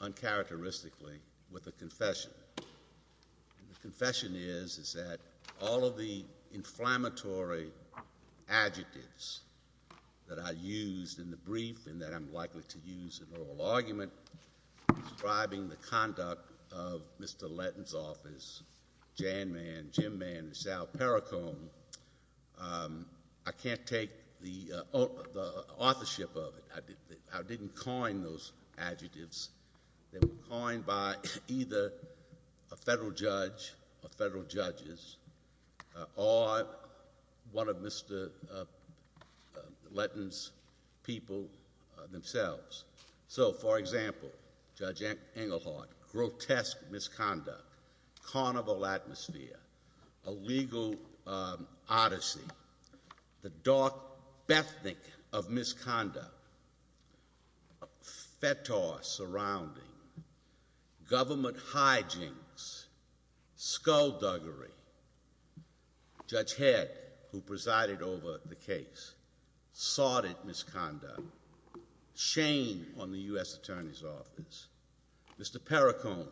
uncharacteristically with a confession. The confession is that all of the inflammatory adjectives that I used in the brief and that I'm likely to use in oral argument describing the conduct of Mr. Letton's office, Jan Mann, Jim Mann, Sal Perricone, I can't take the authorship of it. I didn't coin those adjectives. They were coined by either a federal judge or federal judges or one of Mr. Letton's people themselves. So for example, Judge Englehart, grotesque misconduct, carnival atmosphere, a legal odyssey, the dark Bethnic of misconduct, fetish surrounding, government hijinks, skullduggery. Judge Head, who presided over the case, sordid misconduct, shame on the U.S. Attorney's Office. Mr. Perricone,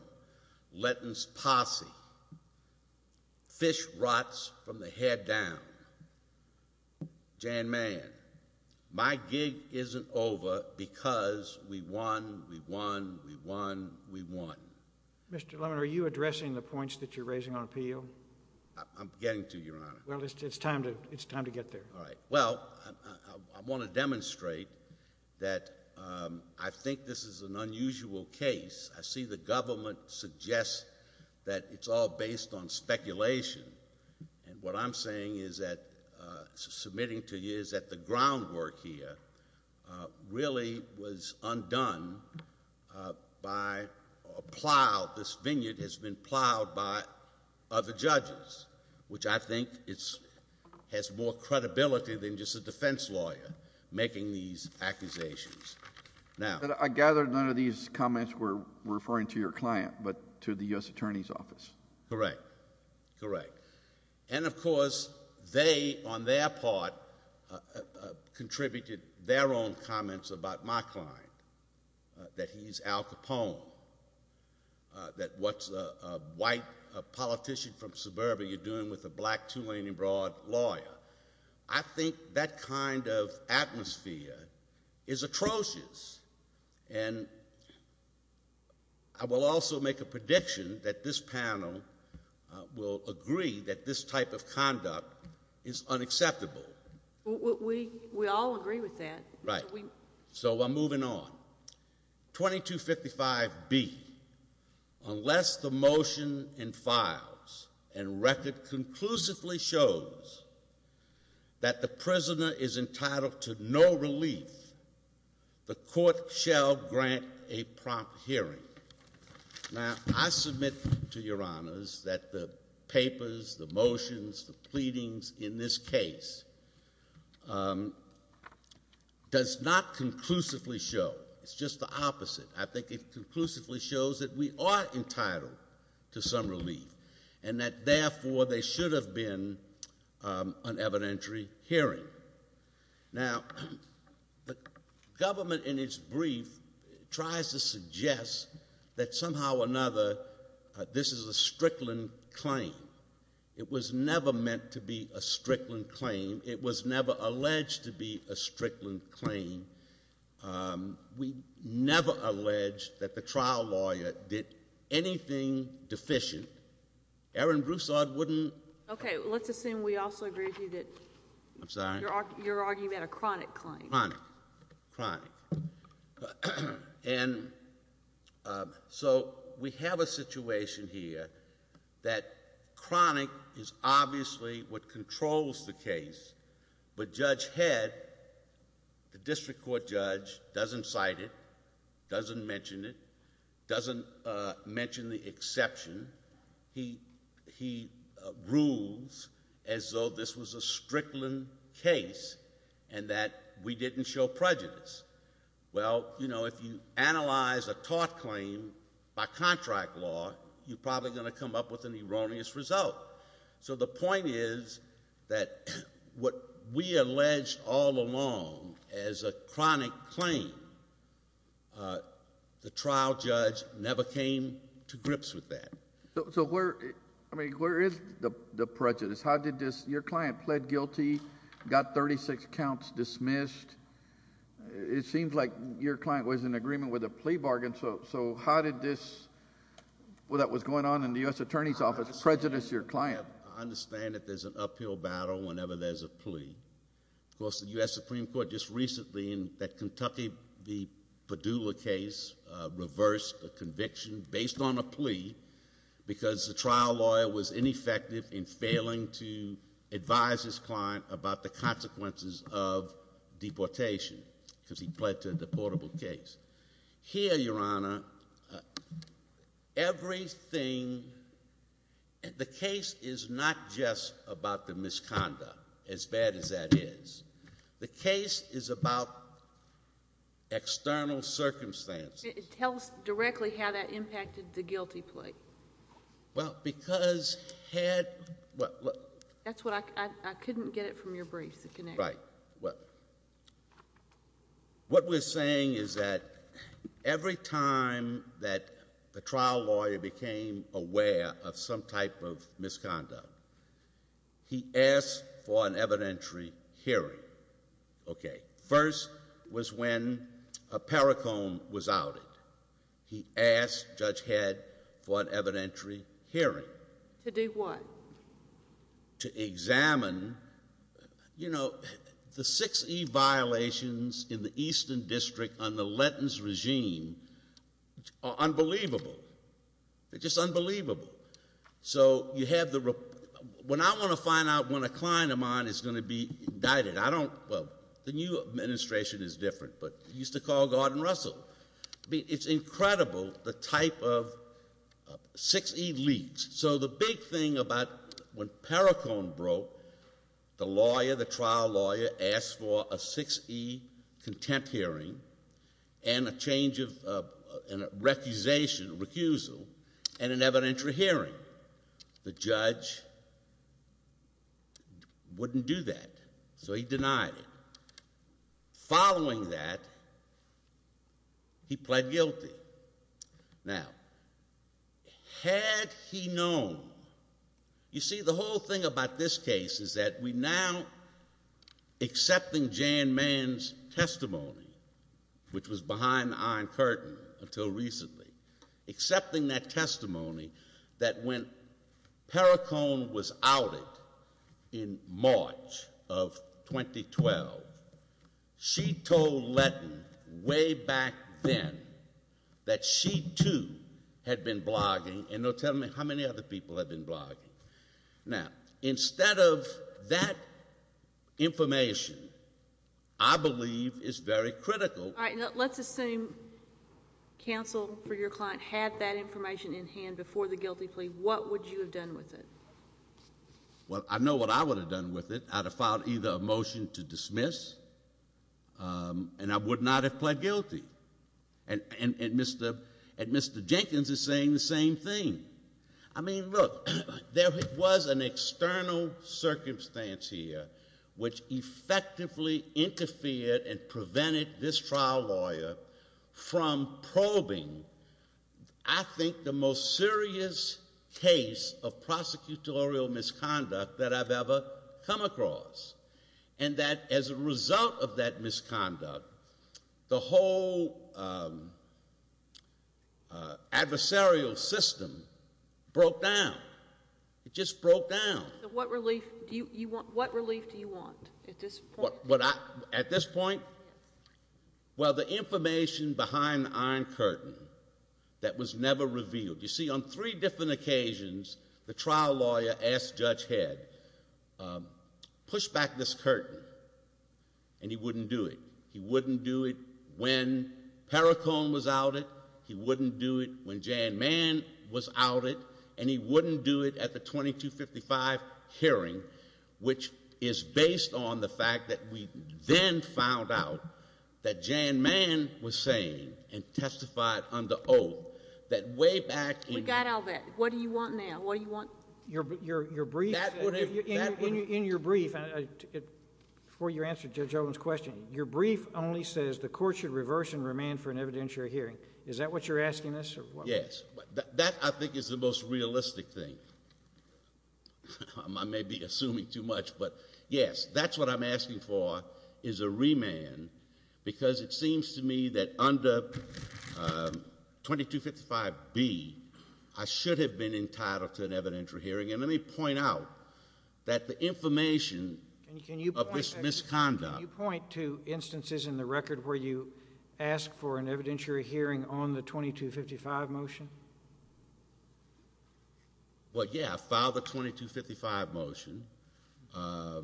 Letton's posse, fish rots from the head down. Jan Mann, my gig isn't over because we won, we won, we won, we won. Mr. Lemon, are you addressing the points that you're raising on appeal? I'm getting to, Your Honor. Well, it's time to get there. All right. Well, I want to demonstrate that I think this is an unusual case. I see the government suggests that it's all based on speculation. And what I'm saying is that submitting to you is that the groundwork here really was undone by a plow. This vineyard has been plowed by other judges, which I think has more credibility than just a defense lawyer making these accusations. Now— But I gather none of these comments were referring to your client, but to the U.S. Attorney's Office. Correct. Correct. And of course, they, on their part, contributed their own comments about my client, that he's Al Capone, that what's a white politician from suburbia doing with a black two-lane-abroad lawyer? I think that kind of atmosphere is atrocious. And I will also make a prediction that this panel will agree that this type of conduct is unacceptable. We all agree with that. Right. So I'm moving on. 2255B, unless the motion and files and record conclusively shows that the prisoner is entitled to no relief, the court shall grant a prompt hearing. Now, I submit to your honors that the papers, the motions, the pleadings in this case does not conclusively show. It's just the opposite. I think it conclusively shows that we are entitled to some relief and that, therefore, they should have been an evidentiary hearing. Now, the government in its brief tries to suggest that somehow or another this is a Strickland claim. It was never meant to be a Strickland claim. It was never alleged to be a Strickland claim. We never alleged that the trial lawyer did anything deficient. Erin Broussard wouldn't... Okay, let's assume we also agree with you that... I'm sorry? You're arguing that a chronic claim. Chronic. And so we have a situation here that chronic is obviously what controls the case. But Judge doesn't mention the exception. He rules as though this was a Strickland case and that we didn't show prejudice. Well, you know, if you analyze a tort claim by contract law, you're probably going to come up with an erroneous result. So the point is that what we alleged all along as a chronic claim, the trial judge never came to grips with that. So where, I mean, where is the prejudice? How did this, your client pled guilty, got 36 counts dismissed. It seems like your client was in agreement with a plea bargain. So how did this, what was going on in the U.S. Attorney's Office prejudice your client? I understand that there's an uphill battle whenever there's a plea. Of course, the U.S. Supreme Court just recently in that Kentucky v. Padula case reversed the conviction based on a plea because the trial lawyer was ineffective in failing to advise his client about the consequences of deportation because he pled to a deportable case. Here, your Honor, everything... The case is not just about the misconduct, as bad as that is. The case is about external circumstances. It tells directly how that impacted the guilty plea. Well, because had... That's what I couldn't get it from your brief, the connection. Right. What we're saying is that every time that the trial lawyer became aware of some type of misconduct, he asked for an evidentiary hearing. Okay. First was when a Paracombe was outed. He asked Judge Head for an evidentiary hearing. To do what? To examine, you know, the 6E violations in the Eastern District on the Lenton's regime are unbelievable. They're just unbelievable. So you have the... When I want to find out when a client of mine is going to be indicted, I don't... Well, the new administration is different, but it used to call Gordon Russell. It's incredible the type of 6E leads. So the big thing about when Paracombe broke, the lawyer, the trial lawyer asked for a 6E contempt hearing and a change of... And a recusation, a recusal, and an evidentiary hearing. The judge wouldn't do that, so he denied it. Following that, he pled guilty. Now, had he known... You see, the whole thing about this case is that we are accepting Jan Mann's testimony, which was behind the Iron Curtain until recently. Accepting that testimony that when Paracombe was outed in March of 2012, she told Lenton way back then that she too had been blogging, and they'll tell me how many other people have been blogging. Now, instead of that information, I believe is very critical... All right. Let's assume counsel for your client had that information in hand before the guilty plea. What would you have done with it? Well, I know what I would have done with it. I'd have filed either a motion to dismiss, and I would not have pled guilty. And Mr. Jenkins is saying the same thing. I mean, look, there was an external circumstance here which effectively interfered and prevented this trial lawyer from probing, I think, the most serious case of prosecutorial misconduct that I've ever come across. And that as a result of that adversarial system broke down. It just broke down. What relief do you want at this point? At this point? Well, the information behind the Iron Curtain that was never revealed. You see, on three different occasions, the trial lawyer asked Judge Head, push back this curtain, and he wouldn't do it. He wouldn't do it when Paracombe was outed. He wouldn't do it when Jan Mann was outed. And he wouldn't do it at the 2255 hearing, which is based on the fact that we then found out that Jan Mann was sane and testified under oath, that way back in... We got all that. What do you want now? What do you want? Your brief... That would have... In your brief, before you answer Judge Olin's question, your brief only says the court should... Yes. That, I think, is the most realistic thing. I may be assuming too much, but yes, that's what I'm asking for, is a remand, because it seems to me that under 2255B, I should have been entitled to an evidentiary hearing. And let me point out that the information of this misconduct... Can you point to instances in the record where you ask for an evidentiary hearing on the 2255 motion? Well, yeah. I filed the 2255 motion. I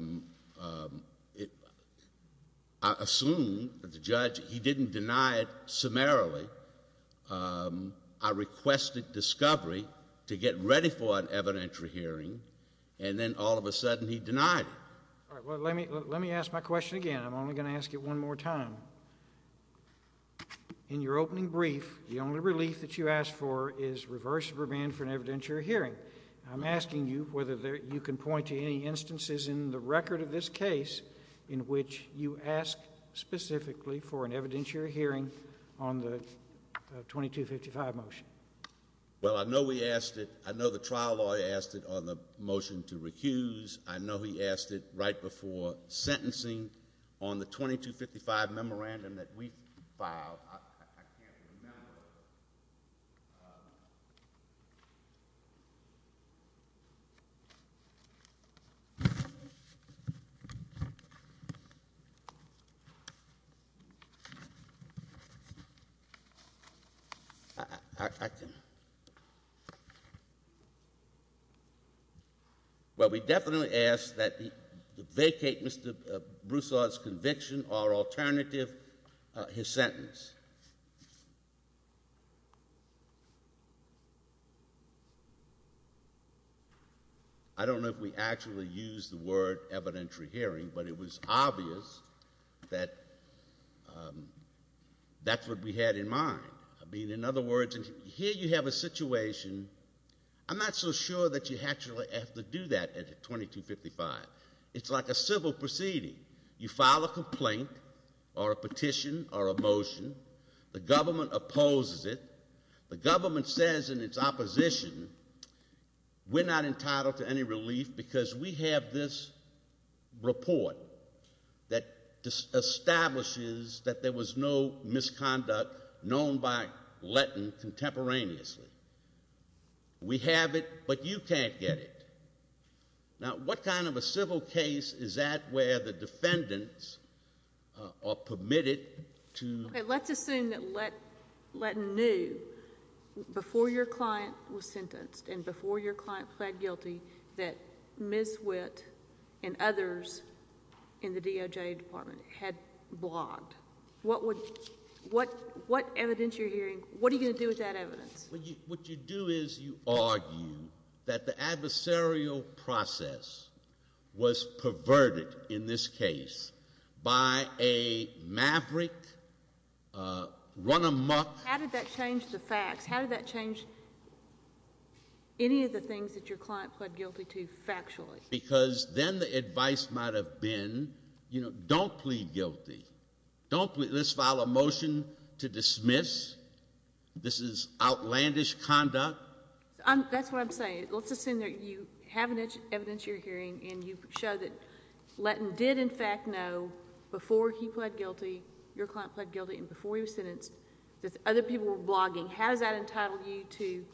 assumed that the judge... He didn't deny it summarily. I requested discovery to get ready for an evidentiary hearing, and then all of a sudden he denied it. Let me ask my question again. I'm only going to ask it one more time. In your opening brief, the only relief that you ask for is reverse remand for an evidentiary hearing. I'm asking you whether you can point to any instances in the record of this case in which you ask specifically for an evidentiary hearing on the 2255 motion. Well, I know we asked it. I know the trial lawyer asked it on the motion to recuse. I know he asked it right before sentencing on the 2255 memorandum that we filed. I can't... Well, we definitely asked that he vacate Mr. Broussard's conviction or alternative his sentence. I don't know if we actually used the word evidentiary hearing, but it was obvious that that's what we had in mind. I mean, in other words, here you have a situation. I'm not so sure that you actually have to do that at 2255. It's like a civil proceeding. You file a complaint or a petition or a motion. The government opposes it. The government says in its opposition, we're not entitled to any relief because we have this report that establishes that there was no misconduct known by Letton contemporaneously. We have it, but you can't get it. Now, what kind of a civil case is that where the defendants are permitted to... Okay, let's assume that Letton knew before your client was sentenced and before your client pled guilty that Ms. Witt and others in the DOJ Department had blogged. What would evidentiary hearing... What are you going to do with that evidence? What you do is you argue that the adversarial process was perverted in this case by a maverick run amok... How did that change the facts? How did that change any of the things that your client pled guilty to factually? Because then the advice might have been, don't plead guilty. Let's file a motion to decide to dismiss. This is outlandish conduct. That's what I'm saying. Let's assume that you have an evidentiary hearing and you show that Letton did in fact know before he pled guilty, your client pled guilty, and before he was sentenced that other people were blogging. How does that entitle you to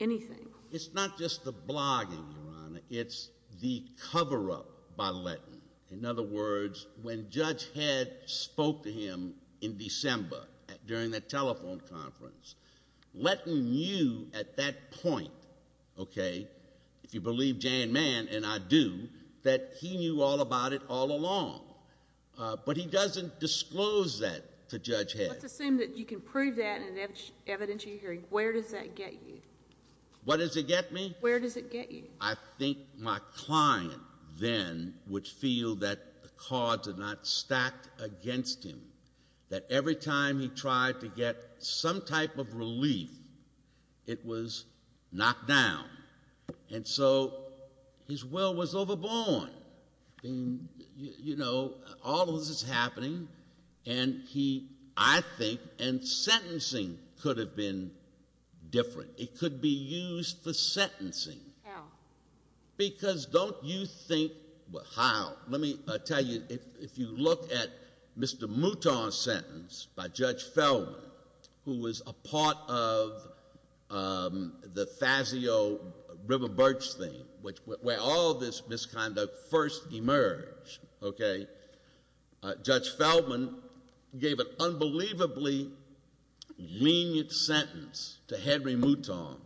anything? It's not just the blogging, Your Honor. It's the cover-up by Letton. In other words, when Judge Head spoke to him in December during that telephone conference, Letton knew at that point, okay, if you believe Jan Mann and I do, that he knew all about it all along. But he doesn't disclose that to Judge Head. Let's assume that you can prove that in an evidentiary hearing. Where does that get you? What does it get me? Where does it get you? I think my client then would feel that the cards are not stacked against him. That every time he tried to get some type of relief, it was knocked down. And so his will was overborne. You know, all of this is happening, and he, I think, and sentencing could have been different. It could be used for sentencing. How? Because don't you think, well, how? Let me tell you, if you look at Mr. Mouton's sentence by Judge Feldman, who was a part of the Fazio-River Birch thing, where all of this misconduct first emerged, okay, Judge Feldman gave an unbelievably lenient sentence to Henry Mouton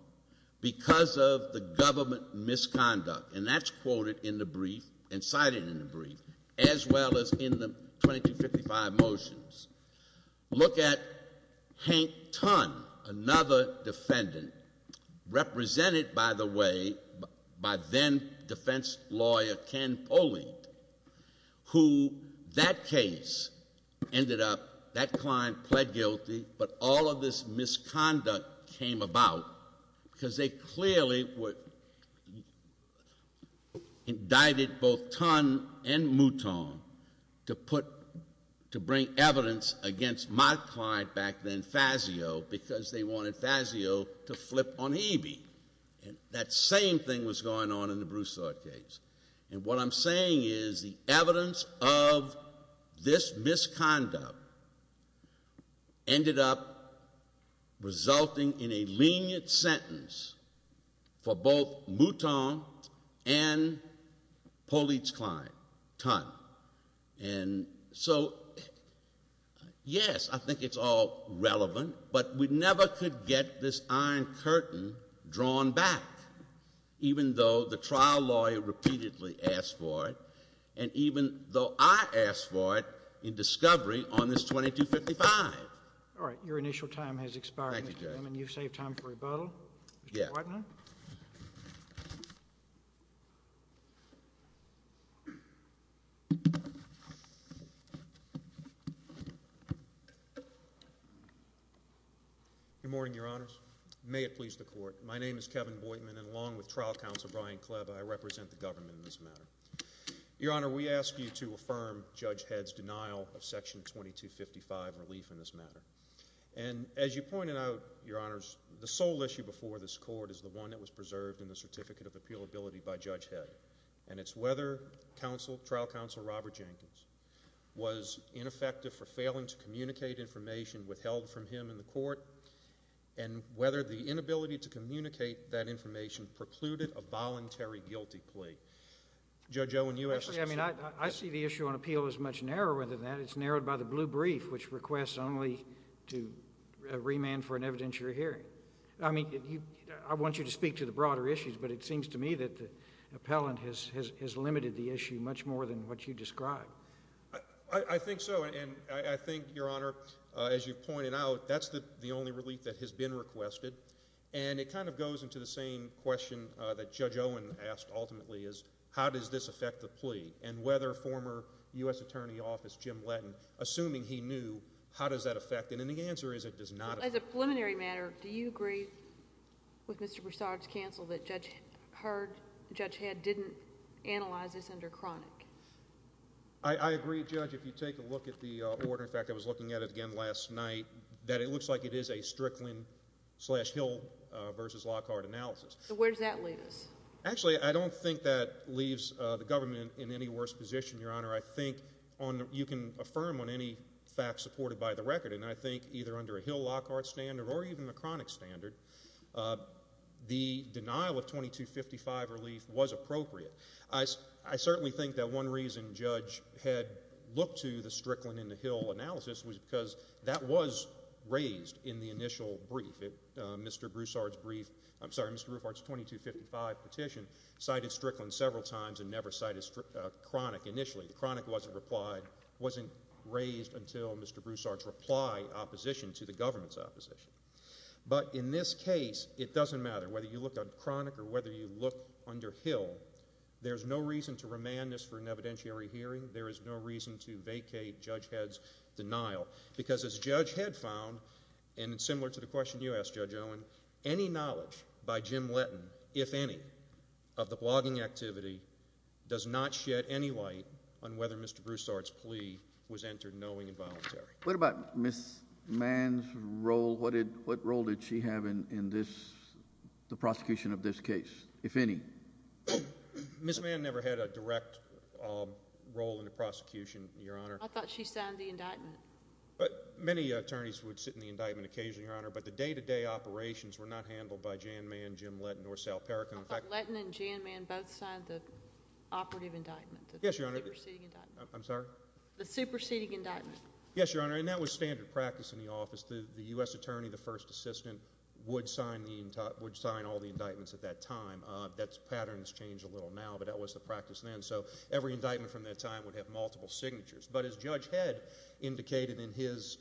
because of the government misconduct. And that's quoted in the brief and cited in the brief, as well as in the 2255 motions. Look at Hank Tunn, another defendant, represented, by the way, by then-defense lawyer Ken Poling, who that case ended up, that client pled guilty, but all of this misconduct came about because they clearly indicted both Tunn and Mouton to put, to bring evidence against my client back then, Fazio, because they wanted Fazio to flip on Eby. And that same thing was going on in the Broussard case. And what I'm saying is the evidence of this misconduct ended up resulting in a lenient sentence for both Mouton and Poling's client, Tunn. And so, yes, I think it's all relevant, but we never could get this iron curtain drawn back, even though the trial lawyer repeatedly asked for it, and even though I asked for it in discovery on this 2255. All right. Your initial time has expired, Mr. Boytman. You've saved time for rebuttal. Mr. Boytman? Yes. Good morning, Your Honors. May it please the Court. My name is Kevin Boytman, and along with Trial Counsel Brian Klebb, I represent the government in this matter. Your Honor, we ask you to affirm Judge Head's denial of Section 2255 relief in this matter. And as you pointed out, Your Honors, the sole issue before this Court is the one that was preserved in the Certificate of Appealability by Judge Head, and it's whether trial counsel Robert Jenkins was ineffective for failing to communicate information withheld from him in the Court, and whether the inability to communicate that information precluded a voluntary guilty plea. Judge Owen, you asked this question. I see the issue on appeal as much narrower than that. It's narrowed by the blue brief, which requests only to remand for an evidentiary hearing. I mean, I want you to speak to the broader issues, but it seems to me that the appellant has limited the issue much more than what you described. I think so, and I think, Your Honor, as you've pointed out, that's the only relief that has been requested, and it kind of goes into the same question that Judge Owen asked, ultimately, is how does this affect the plea, and whether former U.S. Attorney Office Jim Letton, assuming he knew, how does that affect it? And the answer is it does not affect it. As a preliminary matter, do you agree with Mr. Broussard's counsel that Judge Head didn't analyze this under chronic? I agree, Judge, if you take a look at the order. In fact, I was looking at it again last night, that it looks like it is a Strickland-slash-Hill v. Lockhart analysis. So where does that leave us? Actually, I don't think that leaves the government in any worse position, Your Honor. I think you can affirm on any fact supported by the record, and I think either under a Hill-Lockhart standard or even a chronic standard, the denial of 2255 relief was appropriate. I certainly think that one reason Judge Head looked to the Strickland-into-Hill analysis was because that was raised in the initial brief. Mr. Broussard's brief, I'm sorry, Mr. Roofart's 2255 petition cited Strickland several times and never cited chronic initially. The chronic wasn't raised until Mr. Broussard's reply opposition to the government's opposition. But in this case, it doesn't matter whether you look at chronic or whether you look under Hill. There's no reason to remand this for an evidentiary hearing. There is no reason to vacate Judge Head's denial because as Judge Head found, and it's similar to the question you asked, Judge Owen, any knowledge by Jim Letton, if any, of the blogging activity does not shed any light on whether Mr. Broussard's plea was entered knowing and voluntary. What about Ms. Mann's role? What role did she have in the prosecution of this case, if any? Ms. Mann never had a direct role in the prosecution, Your Honor. I thought she signed the indictment. Many attorneys would sit in the indictment occasionally, Your Honor, but the day-to-day operations were not handled by Jan Mann, Jim Letton, or Sal Perricone. I thought Letton and Jan Mann both signed the operative indictment, the superseding indictment. I'm sorry? The superseding indictment. Yes, Your Honor, and that was standard practice in the office. The U.S. attorney, the first time, that pattern has changed a little now, but that was the practice then, so every indictment from that time would have multiple signatures. But as Judge Head indicated in his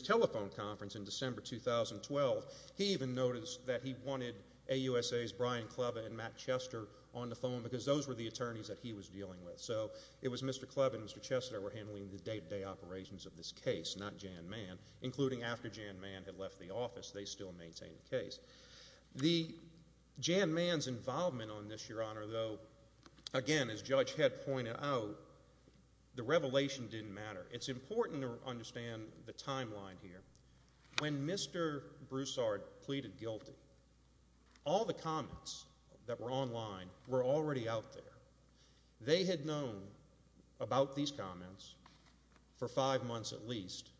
telephone conference in December 2012, he even noticed that he wanted AUSA's Brian Clubb and Matt Chester on the phone because those were the attorneys that he was dealing with. So it was Mr. Clubb and Mr. Chester that were handling the day-to-day operations of this case, not Jan Mann, including after Jan Mann had left the office, they still maintained the case. Jan Mann's involvement on this, Your Honor, though, again, as Judge Head pointed out, the revelation didn't matter. It's important to understand the timeline here. When Mr. Broussard pleaded guilty, all the comments that were online were already out there. They had known about these comments for five months at least,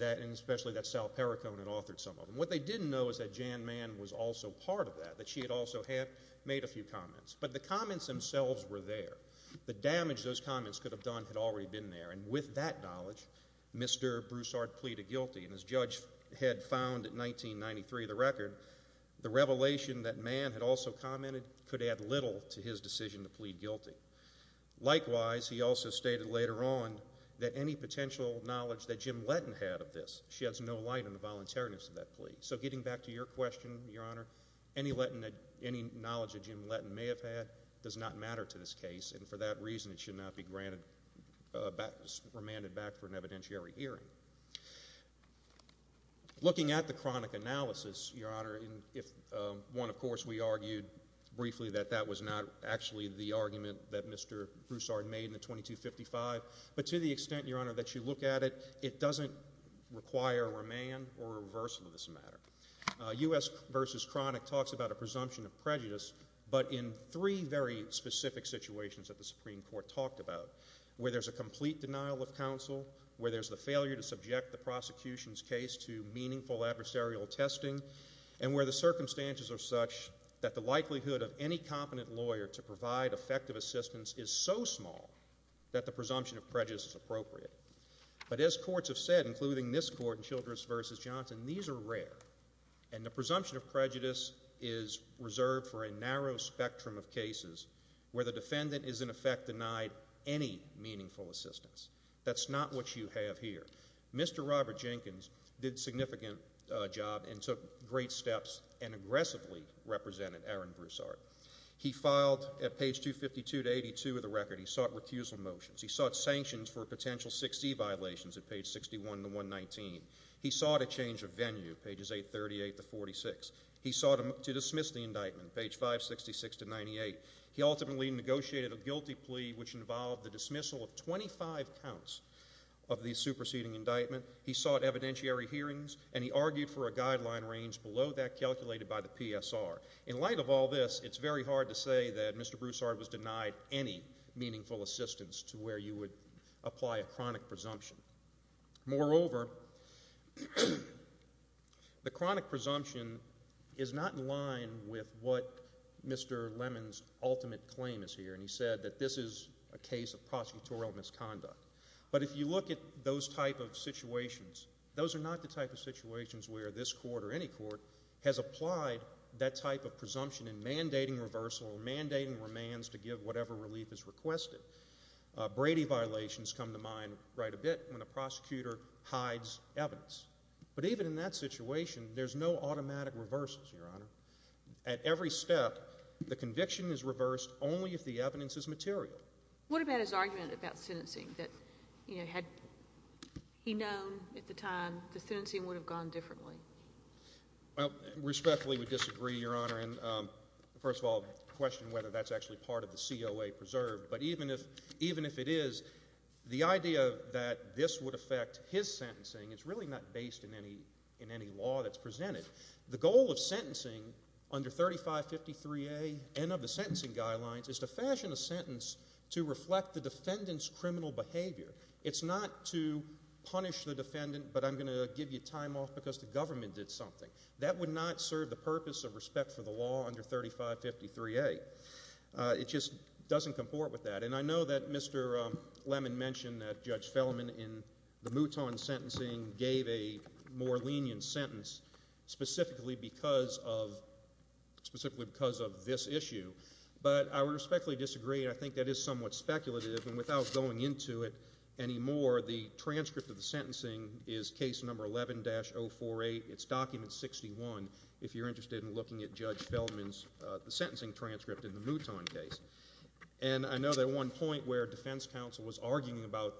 and especially that Sal Perricone had authored some of them. What they didn't know is that Jan Mann was also part of that, that she had also had made a few comments. But the comments themselves were there. The damage those comments could have done had already been there, and with that knowledge, Mr. Broussard pleaded guilty, and as Judge Head found in 1993 of the record, the revelation that Mann had also commented could add little to his decision to plead guilty. Likewise, he also stated later on that any potential knowledge that Jim Letton had of this, she has no light on the voluntariness of that plea. So getting back to your question, Your Honor, any knowledge that Jim Letton may have had does not matter to this case, and for that reason, it should not be remanded back for an evidentiary hearing. Looking at the chronic analysis, Your Honor, one, of course, we argued briefly that that was not actually the argument that Mr. Broussard made in the 2255, but to the extent, Your Honor, that it doesn't require a remand or a reversal of this matter. U.S. v. Chronic talks about a presumption of prejudice, but in three very specific situations that the Supreme Court talked about, where there's a complete denial of counsel, where there's the failure to subject the prosecution's case to meaningful adversarial testing, and where the circumstances are such that the likelihood of any competent lawyer to provide effective assistance is so small that the presumption of prejudice is appropriate. But as courts have said, including this court in Childress v. Johnson, these are rare, and the presumption of prejudice is reserved for a narrow spectrum of cases where the defendant is, in effect, denied any meaningful assistance. That's not what you have here. Mr. Robert Jenkins did a significant job and took great steps and aggressively represented Aaron Broussard. He filed, at page 252 to 82 of the record, he sought recusal motions. He sought sanctions for potential 6C violations at page 61 to 119. He sought a change of venue, pages 838 to 46. He sought to dismiss the indictment, page 566 to 98. He ultimately negotiated a guilty plea, which involved the dismissal of 25 counts of the superseding indictment. He sought evidentiary hearings, and he argued for a guideline range below that calculated by the PSR. In light of all this, it's very hard to say that Mr. Broussard was denied any meaningful assistance to where you would apply a chronic presumption. Moreover, the chronic presumption is not in line with what Mr. Lemon's ultimate claim is here, and he said that this is a case of prosecutorial misconduct. But if you look at those type of situations, those are not the type of situations where this court or any court has applied that type of presumption in mandating reversal or mandating remands to give whatever relief is requested. Brady violations come to mind right a bit when a prosecutor hides evidence. But even in that situation, there's no automatic reversals, Your Honor. At every step, the conviction is reversed only if the evidence is material. What about his argument about sentencing, that, you know, had he known at the time, the sentencing would have gone differently? Well, respectfully, we disagree, Your Honor, and first of all, question whether that's actually part of the COA preserved, but even if it is, the idea that this would affect his sentencing is really not based in any law that's presented. The goal of sentencing under 3553A and of the sentencing guidelines is to fashion a sentence to reflect the defendant's criminal behavior. It's not to punish the defendant, but I'm going to give you time off because the government did something. That would not serve the purpose of respect for the law under 3553A. It just doesn't comport with that, and I know that Mr. Lemon mentioned that Judge Fellman in the Mouton sentencing gave a more lenient sentence specifically because of this issue, but I respectfully disagree, and I think that is somewhat speculative, and without going into it anymore, the transcript of the sentencing is case number 11-048. It's document 61, if you're interested in looking at Judge Fellman's sentencing transcript in the Mouton case, and I know that at one point where defense counsel was arguing about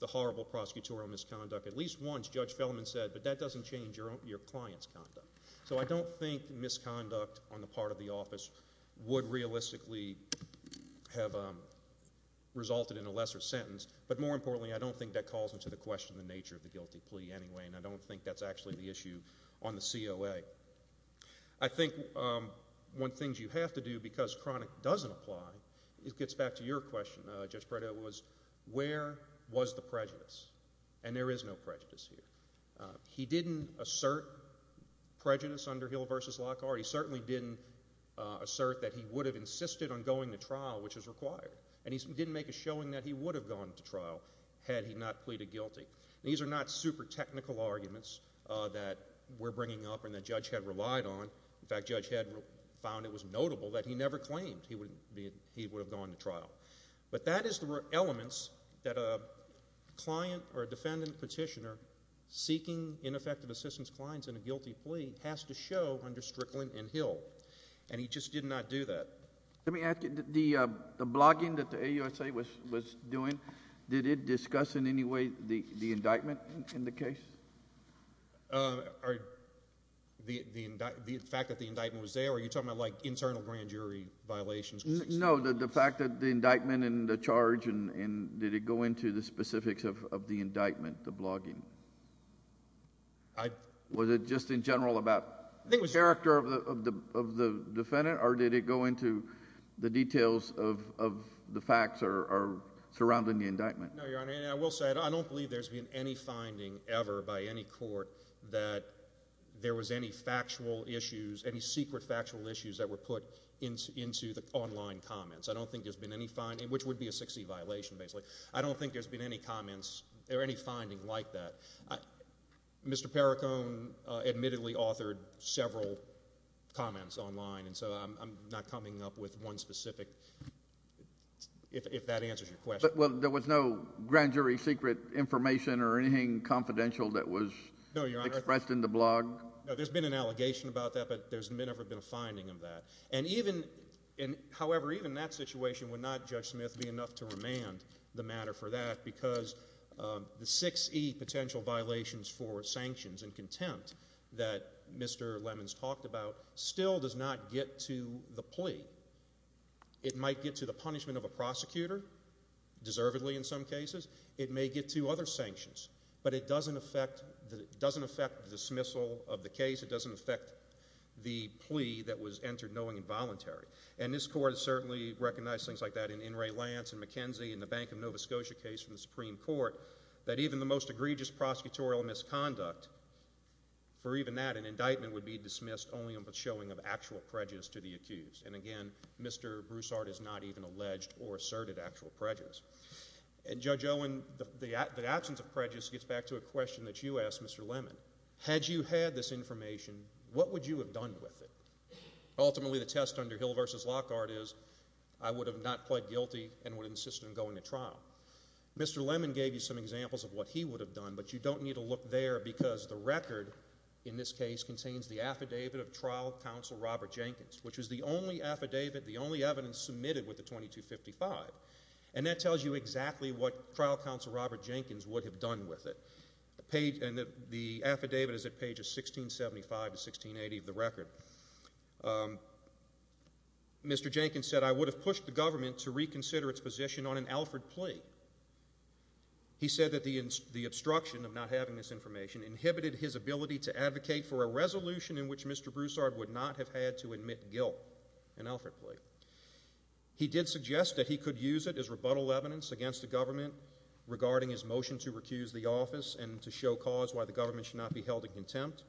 the horrible prosecutorial misconduct, at least once, Judge Fellman said, but that doesn't change your client's conduct, so I don't think misconduct on the part of the office would realistically have resulted in a lesser sentence, but more importantly, I don't think that calls into question the nature of the guilty plea anyway, and I don't think that's actually the issue on the COA. I think one of the things you have to do, because chronic doesn't apply, it gets back to your question, Judge Prado, was where was the prejudice, and there is no prejudice here. He didn't assert prejudice under Hill v. Lockhart. He certainly didn't assert that he would have insisted on going to trial, which is required, and he didn't make a showing that he would have gone to trial had he not pleaded guilty. These are not super technical arguments that we're bringing up and that Judge Head relied on. In fact, Judge Head found it was notable that he never claimed he would have gone to trial, but that is the elements that a client or a defendant petitioner seeking ineffective assistance clients in a guilty plea has to show under Strickland and Hill, and he just did not do that. Let me ask you, the blogging that the AUSA was doing, did it discuss in any way the indictment in the case? The fact that the indictment was there, or are you talking about like internal grand jury violations? No, the fact that the indictment and the charge, and did it go into the specifics of the indictment, the blogging? Was it just in general about the character of the defendant, or did it go into the details of the facts surrounding the indictment? No, Your Honor, and I will say, I don't believe there's been any finding ever by any court that there was any factual issues, any secret factual issues that were put into the online comments. I don't think there's been any finding, which would be a 6C violation, basically. I don't think there's been any comments or any finding like that. Mr. Perricone admittedly authored several comments online, and so I'm not coming up with one specific, if that answers your question. But, well, there was no grand jury secret information or anything confidential that was expressed in the blog? No, there's been an allegation about that, but there's never been a finding of that, and even, however, even that situation would not, Judge Smith, be enough to remand the matter for that, because the 6E potential violations for sanctions and contempt that Mr. Lemons talked about still does not get to the plea. It might get to the punishment of a prosecutor, deservedly in some cases. It may get to other sanctions, but it doesn't affect the dismissal of the case. It doesn't affect the plea that was entered knowing involuntary, and this Court has certainly recognized things like that in In re Lance and McKenzie and the Bank of Nova Scotia case from the Supreme Court, that even the most egregious prosecutorial misconduct, for even that, an indictment would be dismissed only on the showing of actual prejudice to the accused, and again, Mr. Broussard has not even alleged or asserted actual prejudice. And Judge Owen, the absence of prejudice gets back to a question that you asked, Mr. Lemon. Had you had this information, what would you have done with it? Ultimately, the test under Hill v. Lockhart is, I would have not pled guilty and would insist on going to trial. Mr. Lemon gave you some examples of what he would have done, but you don't need to look there because the record in this case contains the affidavit of trial counsel Robert Jenkins, which is the only affidavit, the only evidence submitted with the 2255, and that tells you exactly what trial counsel Robert Jenkins would have done with it. The affidavit is at pages 1675 to 1680 of the record. Mr. Jenkins said, I would have pushed the government to reconsider its position on an Alfred plea. He said that the obstruction of not having this information inhibited his ability to advocate for a resolution in which Mr. Broussard would not have had to admit guilt, an Alfred plea. He did suggest that he could use it as rebuttal evidence against the government regarding his motion to recuse the office and to show cause why the government should not be held in contempt.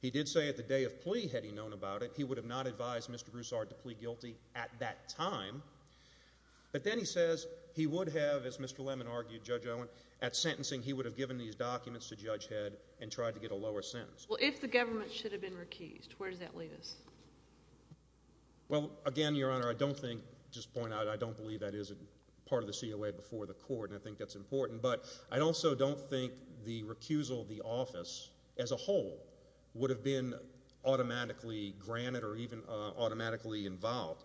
He did say at the day of plea, had he known about it, he would have not advised Mr. Broussard to plea guilty at that time. But then he says he would have, as Mr. Lemon argued, Judge Owen, at sentencing, he would have given these documents to Judge Head and tried to get a lower sentence. Well, if the government should have been recused, where does that leave us? Well, again, Your Honor, I don't think, just to point out, I don't believe that is part of the COA before the court, and I think that's important, but I also don't think the recusal of the office as a whole would have been automatically granted or even automatically involved.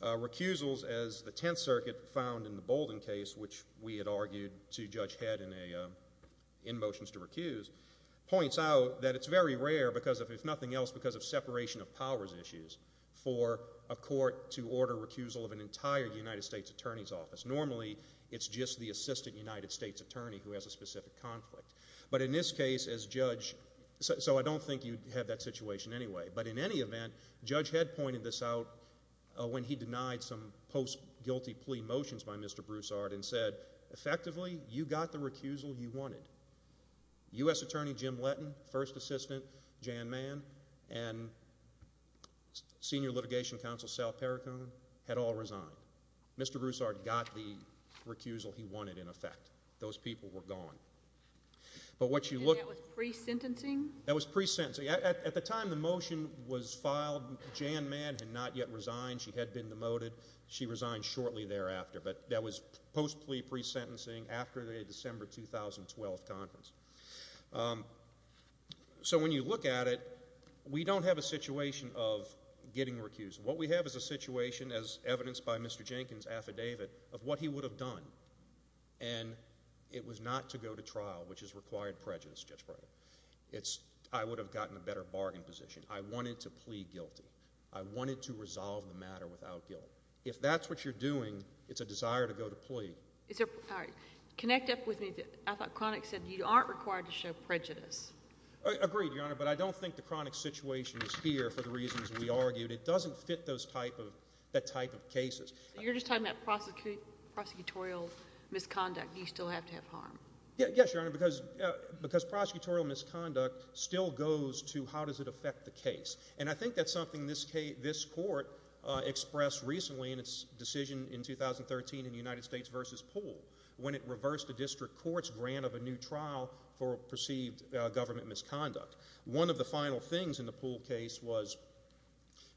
Recusals, as the Tenth Circuit found in the Bolden case, which we had argued to Judge Head in motions to recuse, points out that it's very rare because, if nothing else, because of separation of powers issues for a court to order recusal of an entire United States Attorney's office. Normally, it's just the Assistant United States Attorney who has a specific conflict. But in this case, as Judge, so I don't think you'd have that situation anyway. But in any event, Judge Head pointed this out when he denied some post-guilty plea motions by Mr. Broussard and said, effectively, you got the recusal you wanted. U.S. Attorney Jim Letton, First Assistant Jan Mann, and Senior Litigation Counsel Sal Perricone had all resigned. Mr. Broussard got the recusal he wanted, in effect. Those people were gone. But what you look- And that was pre-sentencing? That was pre-sentencing. At the time the motion was filed, Jan Mann had not yet resigned. She had been demoted. She resigned shortly thereafter. But that was post-plea pre-sentencing after the December 2012 conference. So when you look at it, we don't have a situation of getting recused. What we have is a situation, as evidenced by Mr. Jenkins' affidavit, of what he would have done. And it was not to go to trial, which has required prejudice, Judge Breyer. I would have gotten a better bargain position. I wanted to plea guilty. I wanted to resolve the matter without guilt. If that's what you're doing, it's a desire to go to plea. Connect up with me. I thought Kroenig said you aren't required to show prejudice. Agreed, Your Honor. But I don't think the Kroenig situation is here for the reasons we argued. It doesn't fit that type of cases. You're just talking about prosecutorial misconduct. Do you still have to have harm? Yes, Your Honor, because prosecutorial misconduct still goes to how does it affect the case. And I think that's something this court expressed recently in its decision in 2013 in United States v. Poole, when it reversed the district court's grant of a new trial for perceived government misconduct. One of the final things in the Poole case was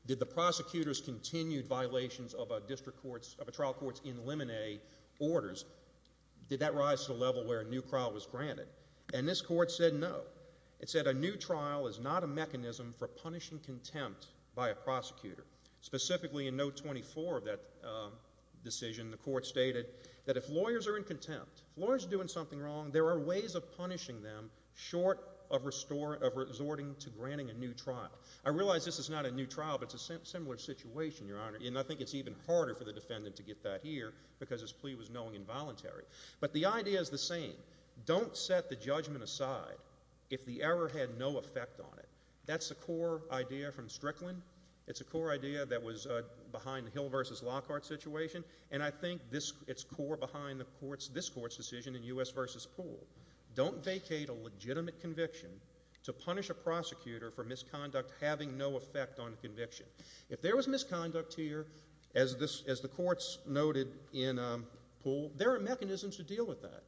did the prosecutor's continued violations of a district court's, of a trial court's in limine orders, did that rise to the level where a new trial was granted? And this court said no. It said a new trial is not a mechanism for punishing contempt by a prosecutor. Specifically in note 24 of that decision, the court stated that if lawyers are in contempt, if lawyers are doing something wrong, there are ways of punishing them short of resorting to granting a new trial. I realize this is not a new trial, but it's a similar situation, Your Honor, and I think it's even harder for the defendant to get that here because his plea was knowing involuntary. But the idea is the same. Don't set the judgment aside if the error had no effect on it. That's a core idea from Strickland. It's a core idea that was behind the Hill v. Lockhart situation. And I think it's core behind this court's decision in U.S. v. Poole. Don't vacate a legitimate conviction to punish a prosecutor for misconduct having no effect on a conviction. If there was misconduct here, as the courts noted in Poole, there are mechanisms to deal with that.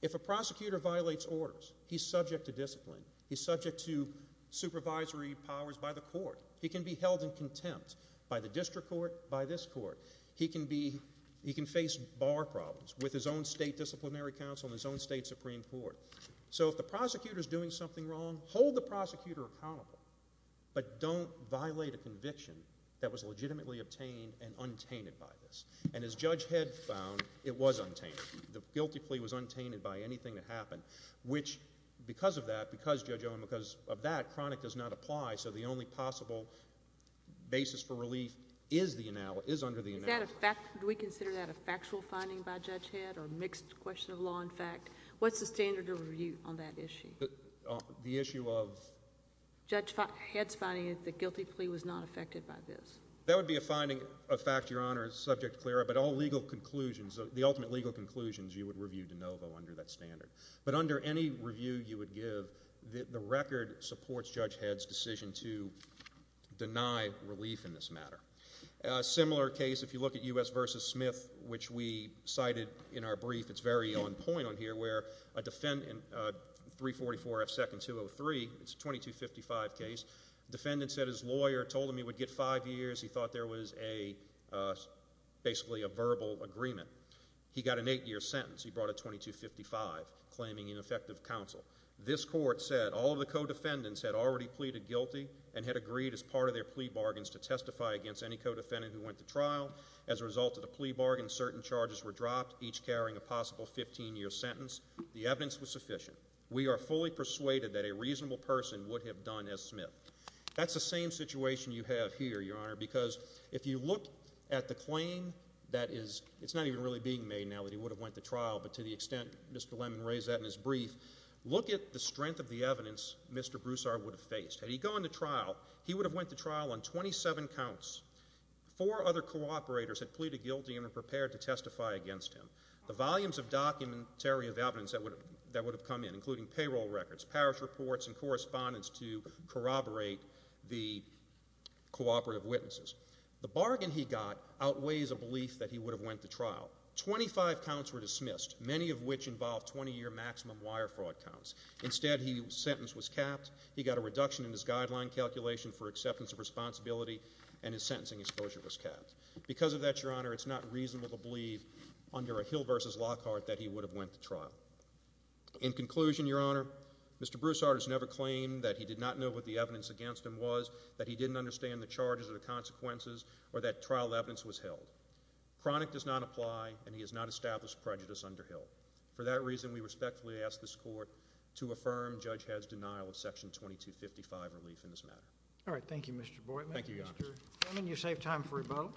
If a prosecutor violates orders, he's subject to discipline. He's subject to supervisory powers by the court. He can be held in contempt by the district court, by this court. He can be, he can face bar problems with his own state disciplinary counsel and his own state supreme court. So if the prosecutor's doing something wrong, hold the prosecutor accountable, but don't violate a conviction that was legitimately obtained and untainted by this. And as Judge Head found, it was untainted. The guilty plea was untainted by anything that happened, which, because of that, because Judge Owen, because of that, chronic does not apply, so the only possible basis for reviewing that. Is that a fact, do we consider that a factual finding by Judge Head or a mixed question of law and fact? What's the standard of review on that issue? The issue of? Judge Head's finding is that the guilty plea was not affected by this. That would be a finding of fact, Your Honor, subject to CLRA, but all legal conclusions, the ultimate legal conclusions, you would review de novo under that standard. But under any review you would give, the record supports Judge Head's decision to deny relief in this matter. A similar case, if you look at U.S. v. Smith, which we cited in our brief, it's very on point on here, where a defendant, 344 F. 2nd 203, it's a 2255 case, defendant said his lawyer told him he would get five years, he thought there was a, basically a verbal agreement. He got an eight-year sentence, he brought a 2255, claiming ineffective counsel. This court said all of the co-defendants had already pleaded guilty and had agreed as part of their plea bargains to testify against any co-defendant who went to trial. As a result of the plea bargain, certain charges were dropped, each carrying a possible 15-year sentence. The evidence was sufficient. We are fully persuaded that a reasonable person would have done as Smith. That's the same situation you have here, Your Honor, because if you look at the claim that is, it's not even really being made now that he would have went to trial, but to the extent Mr. Lemon raised that in his brief, look at the strength of the evidence Mr. Broussard would have faced. Had he gone to trial, he would have went to trial on 27 counts. Four other co-operators had pleaded guilty and were prepared to testify against him. The volumes of documentary of evidence that would have come in, including payroll records, parish reports, and correspondence to corroborate the co-operative witnesses. The bargain he got outweighs a belief that he would have went to trial. Twenty-five counts were dismissed, many of which involved 20-year maximum wire fraud counts. Instead, his sentence was capped, he got a reduction in his guideline calculation for acceptance of responsibility, and his sentencing exposure was capped. Because of that, Your Honor, it's not reasonable to believe under a Hill v. Lockhart that he would have went to trial. In conclusion, Your Honor, Mr. Broussard has never claimed that he did not know what the evidence against him was, that he didn't understand the charges or the consequences, or that trial evidence was held. Chronic does not apply, and he has not established prejudice under Hill. For that reason, we respectfully ask this Court to affirm Judge Head's denial of Section 2255 relief in this matter. All right. Thank you, Mr. Boydman. Thank you, Your Honor. Mr. Boydman, you saved time for rebuttal.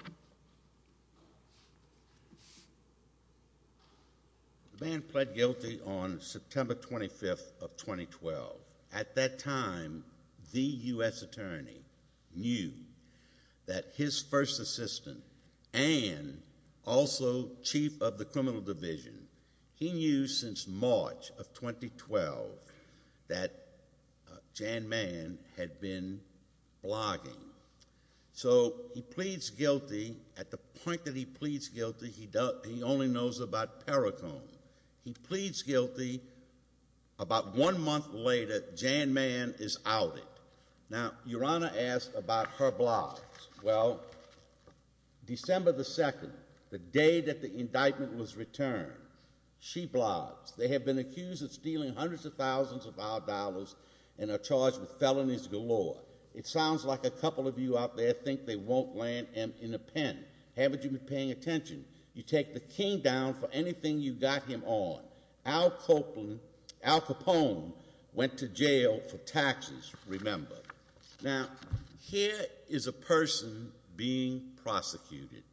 The man pled guilty on September 25th of 2012. At that time, the U.S. Attorney knew that his first assistant and also chief of the He knew since March of 2012 that Jan Mann had been blogging. So he pleads guilty. At the point that he pleads guilty, he only knows about Perricone. He pleads guilty. About one month later, Jan Mann is outed. Now, Your Honor asked about her blogs. Well, December 2nd, the day that the indictment was returned, she blogs, They have been accused of stealing hundreds of thousands of our dollars and are charged with felonies galore. It sounds like a couple of you out there think they won't land in a pen. Haven't you been paying attention? You take the king down for anything you got him on. Al Capone went to jail for taxes, remember. Now, here is a person being prosecuted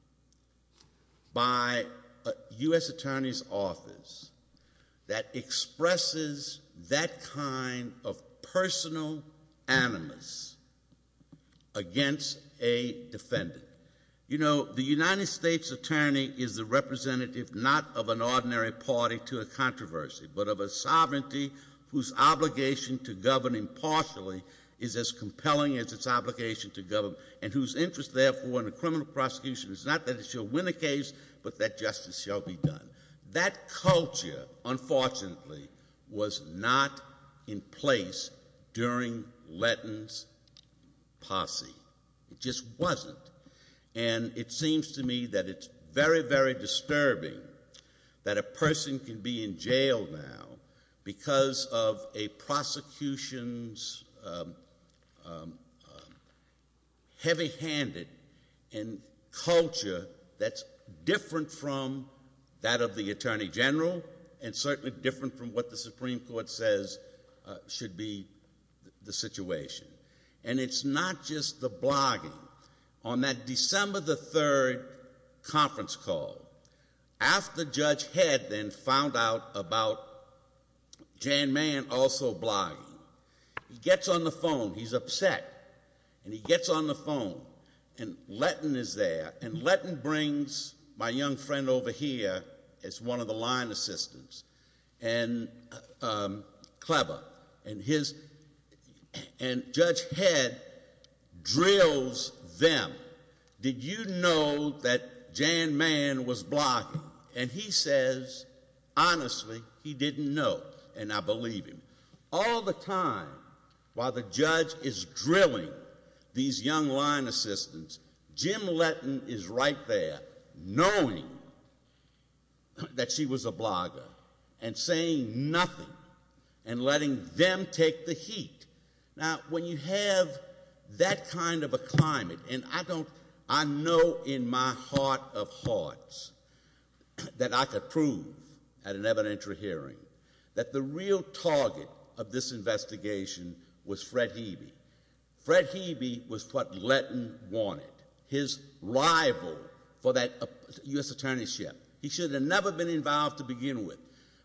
by a U.S. Attorney's office that expresses that kind of personal animus against a defendant. You know, the United States Attorney is the representative not of an ordinary party to a controversy, but of a sovereignty whose obligation to govern impartially is as compelling as its obligation to govern. And whose interest, therefore, in a criminal prosecution is not that it shall win a case, but that justice shall be done. That culture, unfortunately, was not in place during Letton's posse. It just wasn't. And it seems to me that it's very, very disturbing that a person can be in jail now because of a prosecution's heavy-handed and culture that's different from that of the Attorney General and certainly different from what the Supreme Court says should be the situation. And it's not just the blogging. On that December the 3rd conference call, after Judge Head then found out about Jan Mann also blogging, he gets on the phone, he's upset, and he gets on the phone. And Letton is there, and Letton brings my young friend over here as one of the line assistants. And clever, and Judge Head drills them. Did you know that Jan Mann was blogging? And he says, honestly, he didn't know, and I believe him. All the time, while the judge is drilling these young line assistants, Jim Letton is right there, knowing that she was a blogger, and saying nothing, and letting them take the heat. Now, when you have that kind of a climate, and I know in my heart of hearts that I could prove at an evidentiary hearing that the real target of this investigation was Fred Hebe. Fred Hebe was what Letton wanted, his rival for that U.S. attorneyship. He should have never been involved to begin with,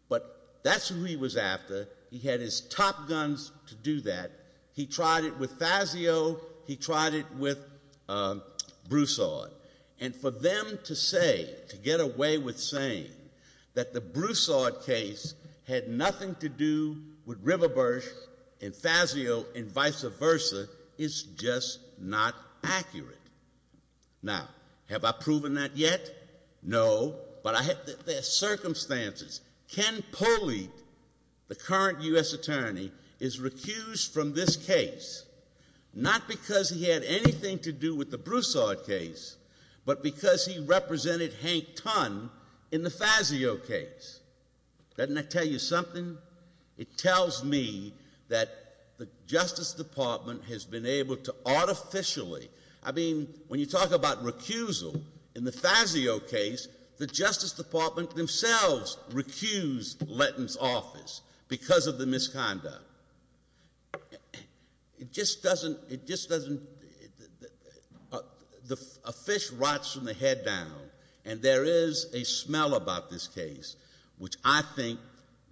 but that's who he was after. He had his top guns to do that. He tried it with Fazio. He tried it with Broussard. And for them to say, to get away with saying that the Broussard case had nothing to do with Riverbush and Fazio and vice versa is just not accurate. Now, have I proven that yet? No, but there are circumstances. Ken Polley, the current U.S. attorney, is recused from this case, not because he had anything to do with the Broussard case, but because he represented Hank Tunn in the Fazio case. Doesn't that tell you something? It tells me that the Justice Department has been able to artificially, I mean, when you talk about recusal, in the Fazio case, the Justice Department themselves recused Letton's office because of the misconduct. It just doesn't, a fish rots from the head down. And there is a smell about this case, which I think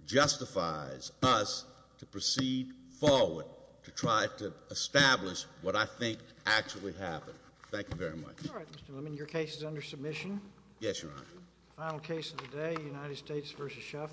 justifies us to proceed forward, to try to establish what I think actually happened. Thank you very much. All right, Mr. Lemon, your case is under submission. Yes, Your Honor. Final case of the day, United States v. Shuffle.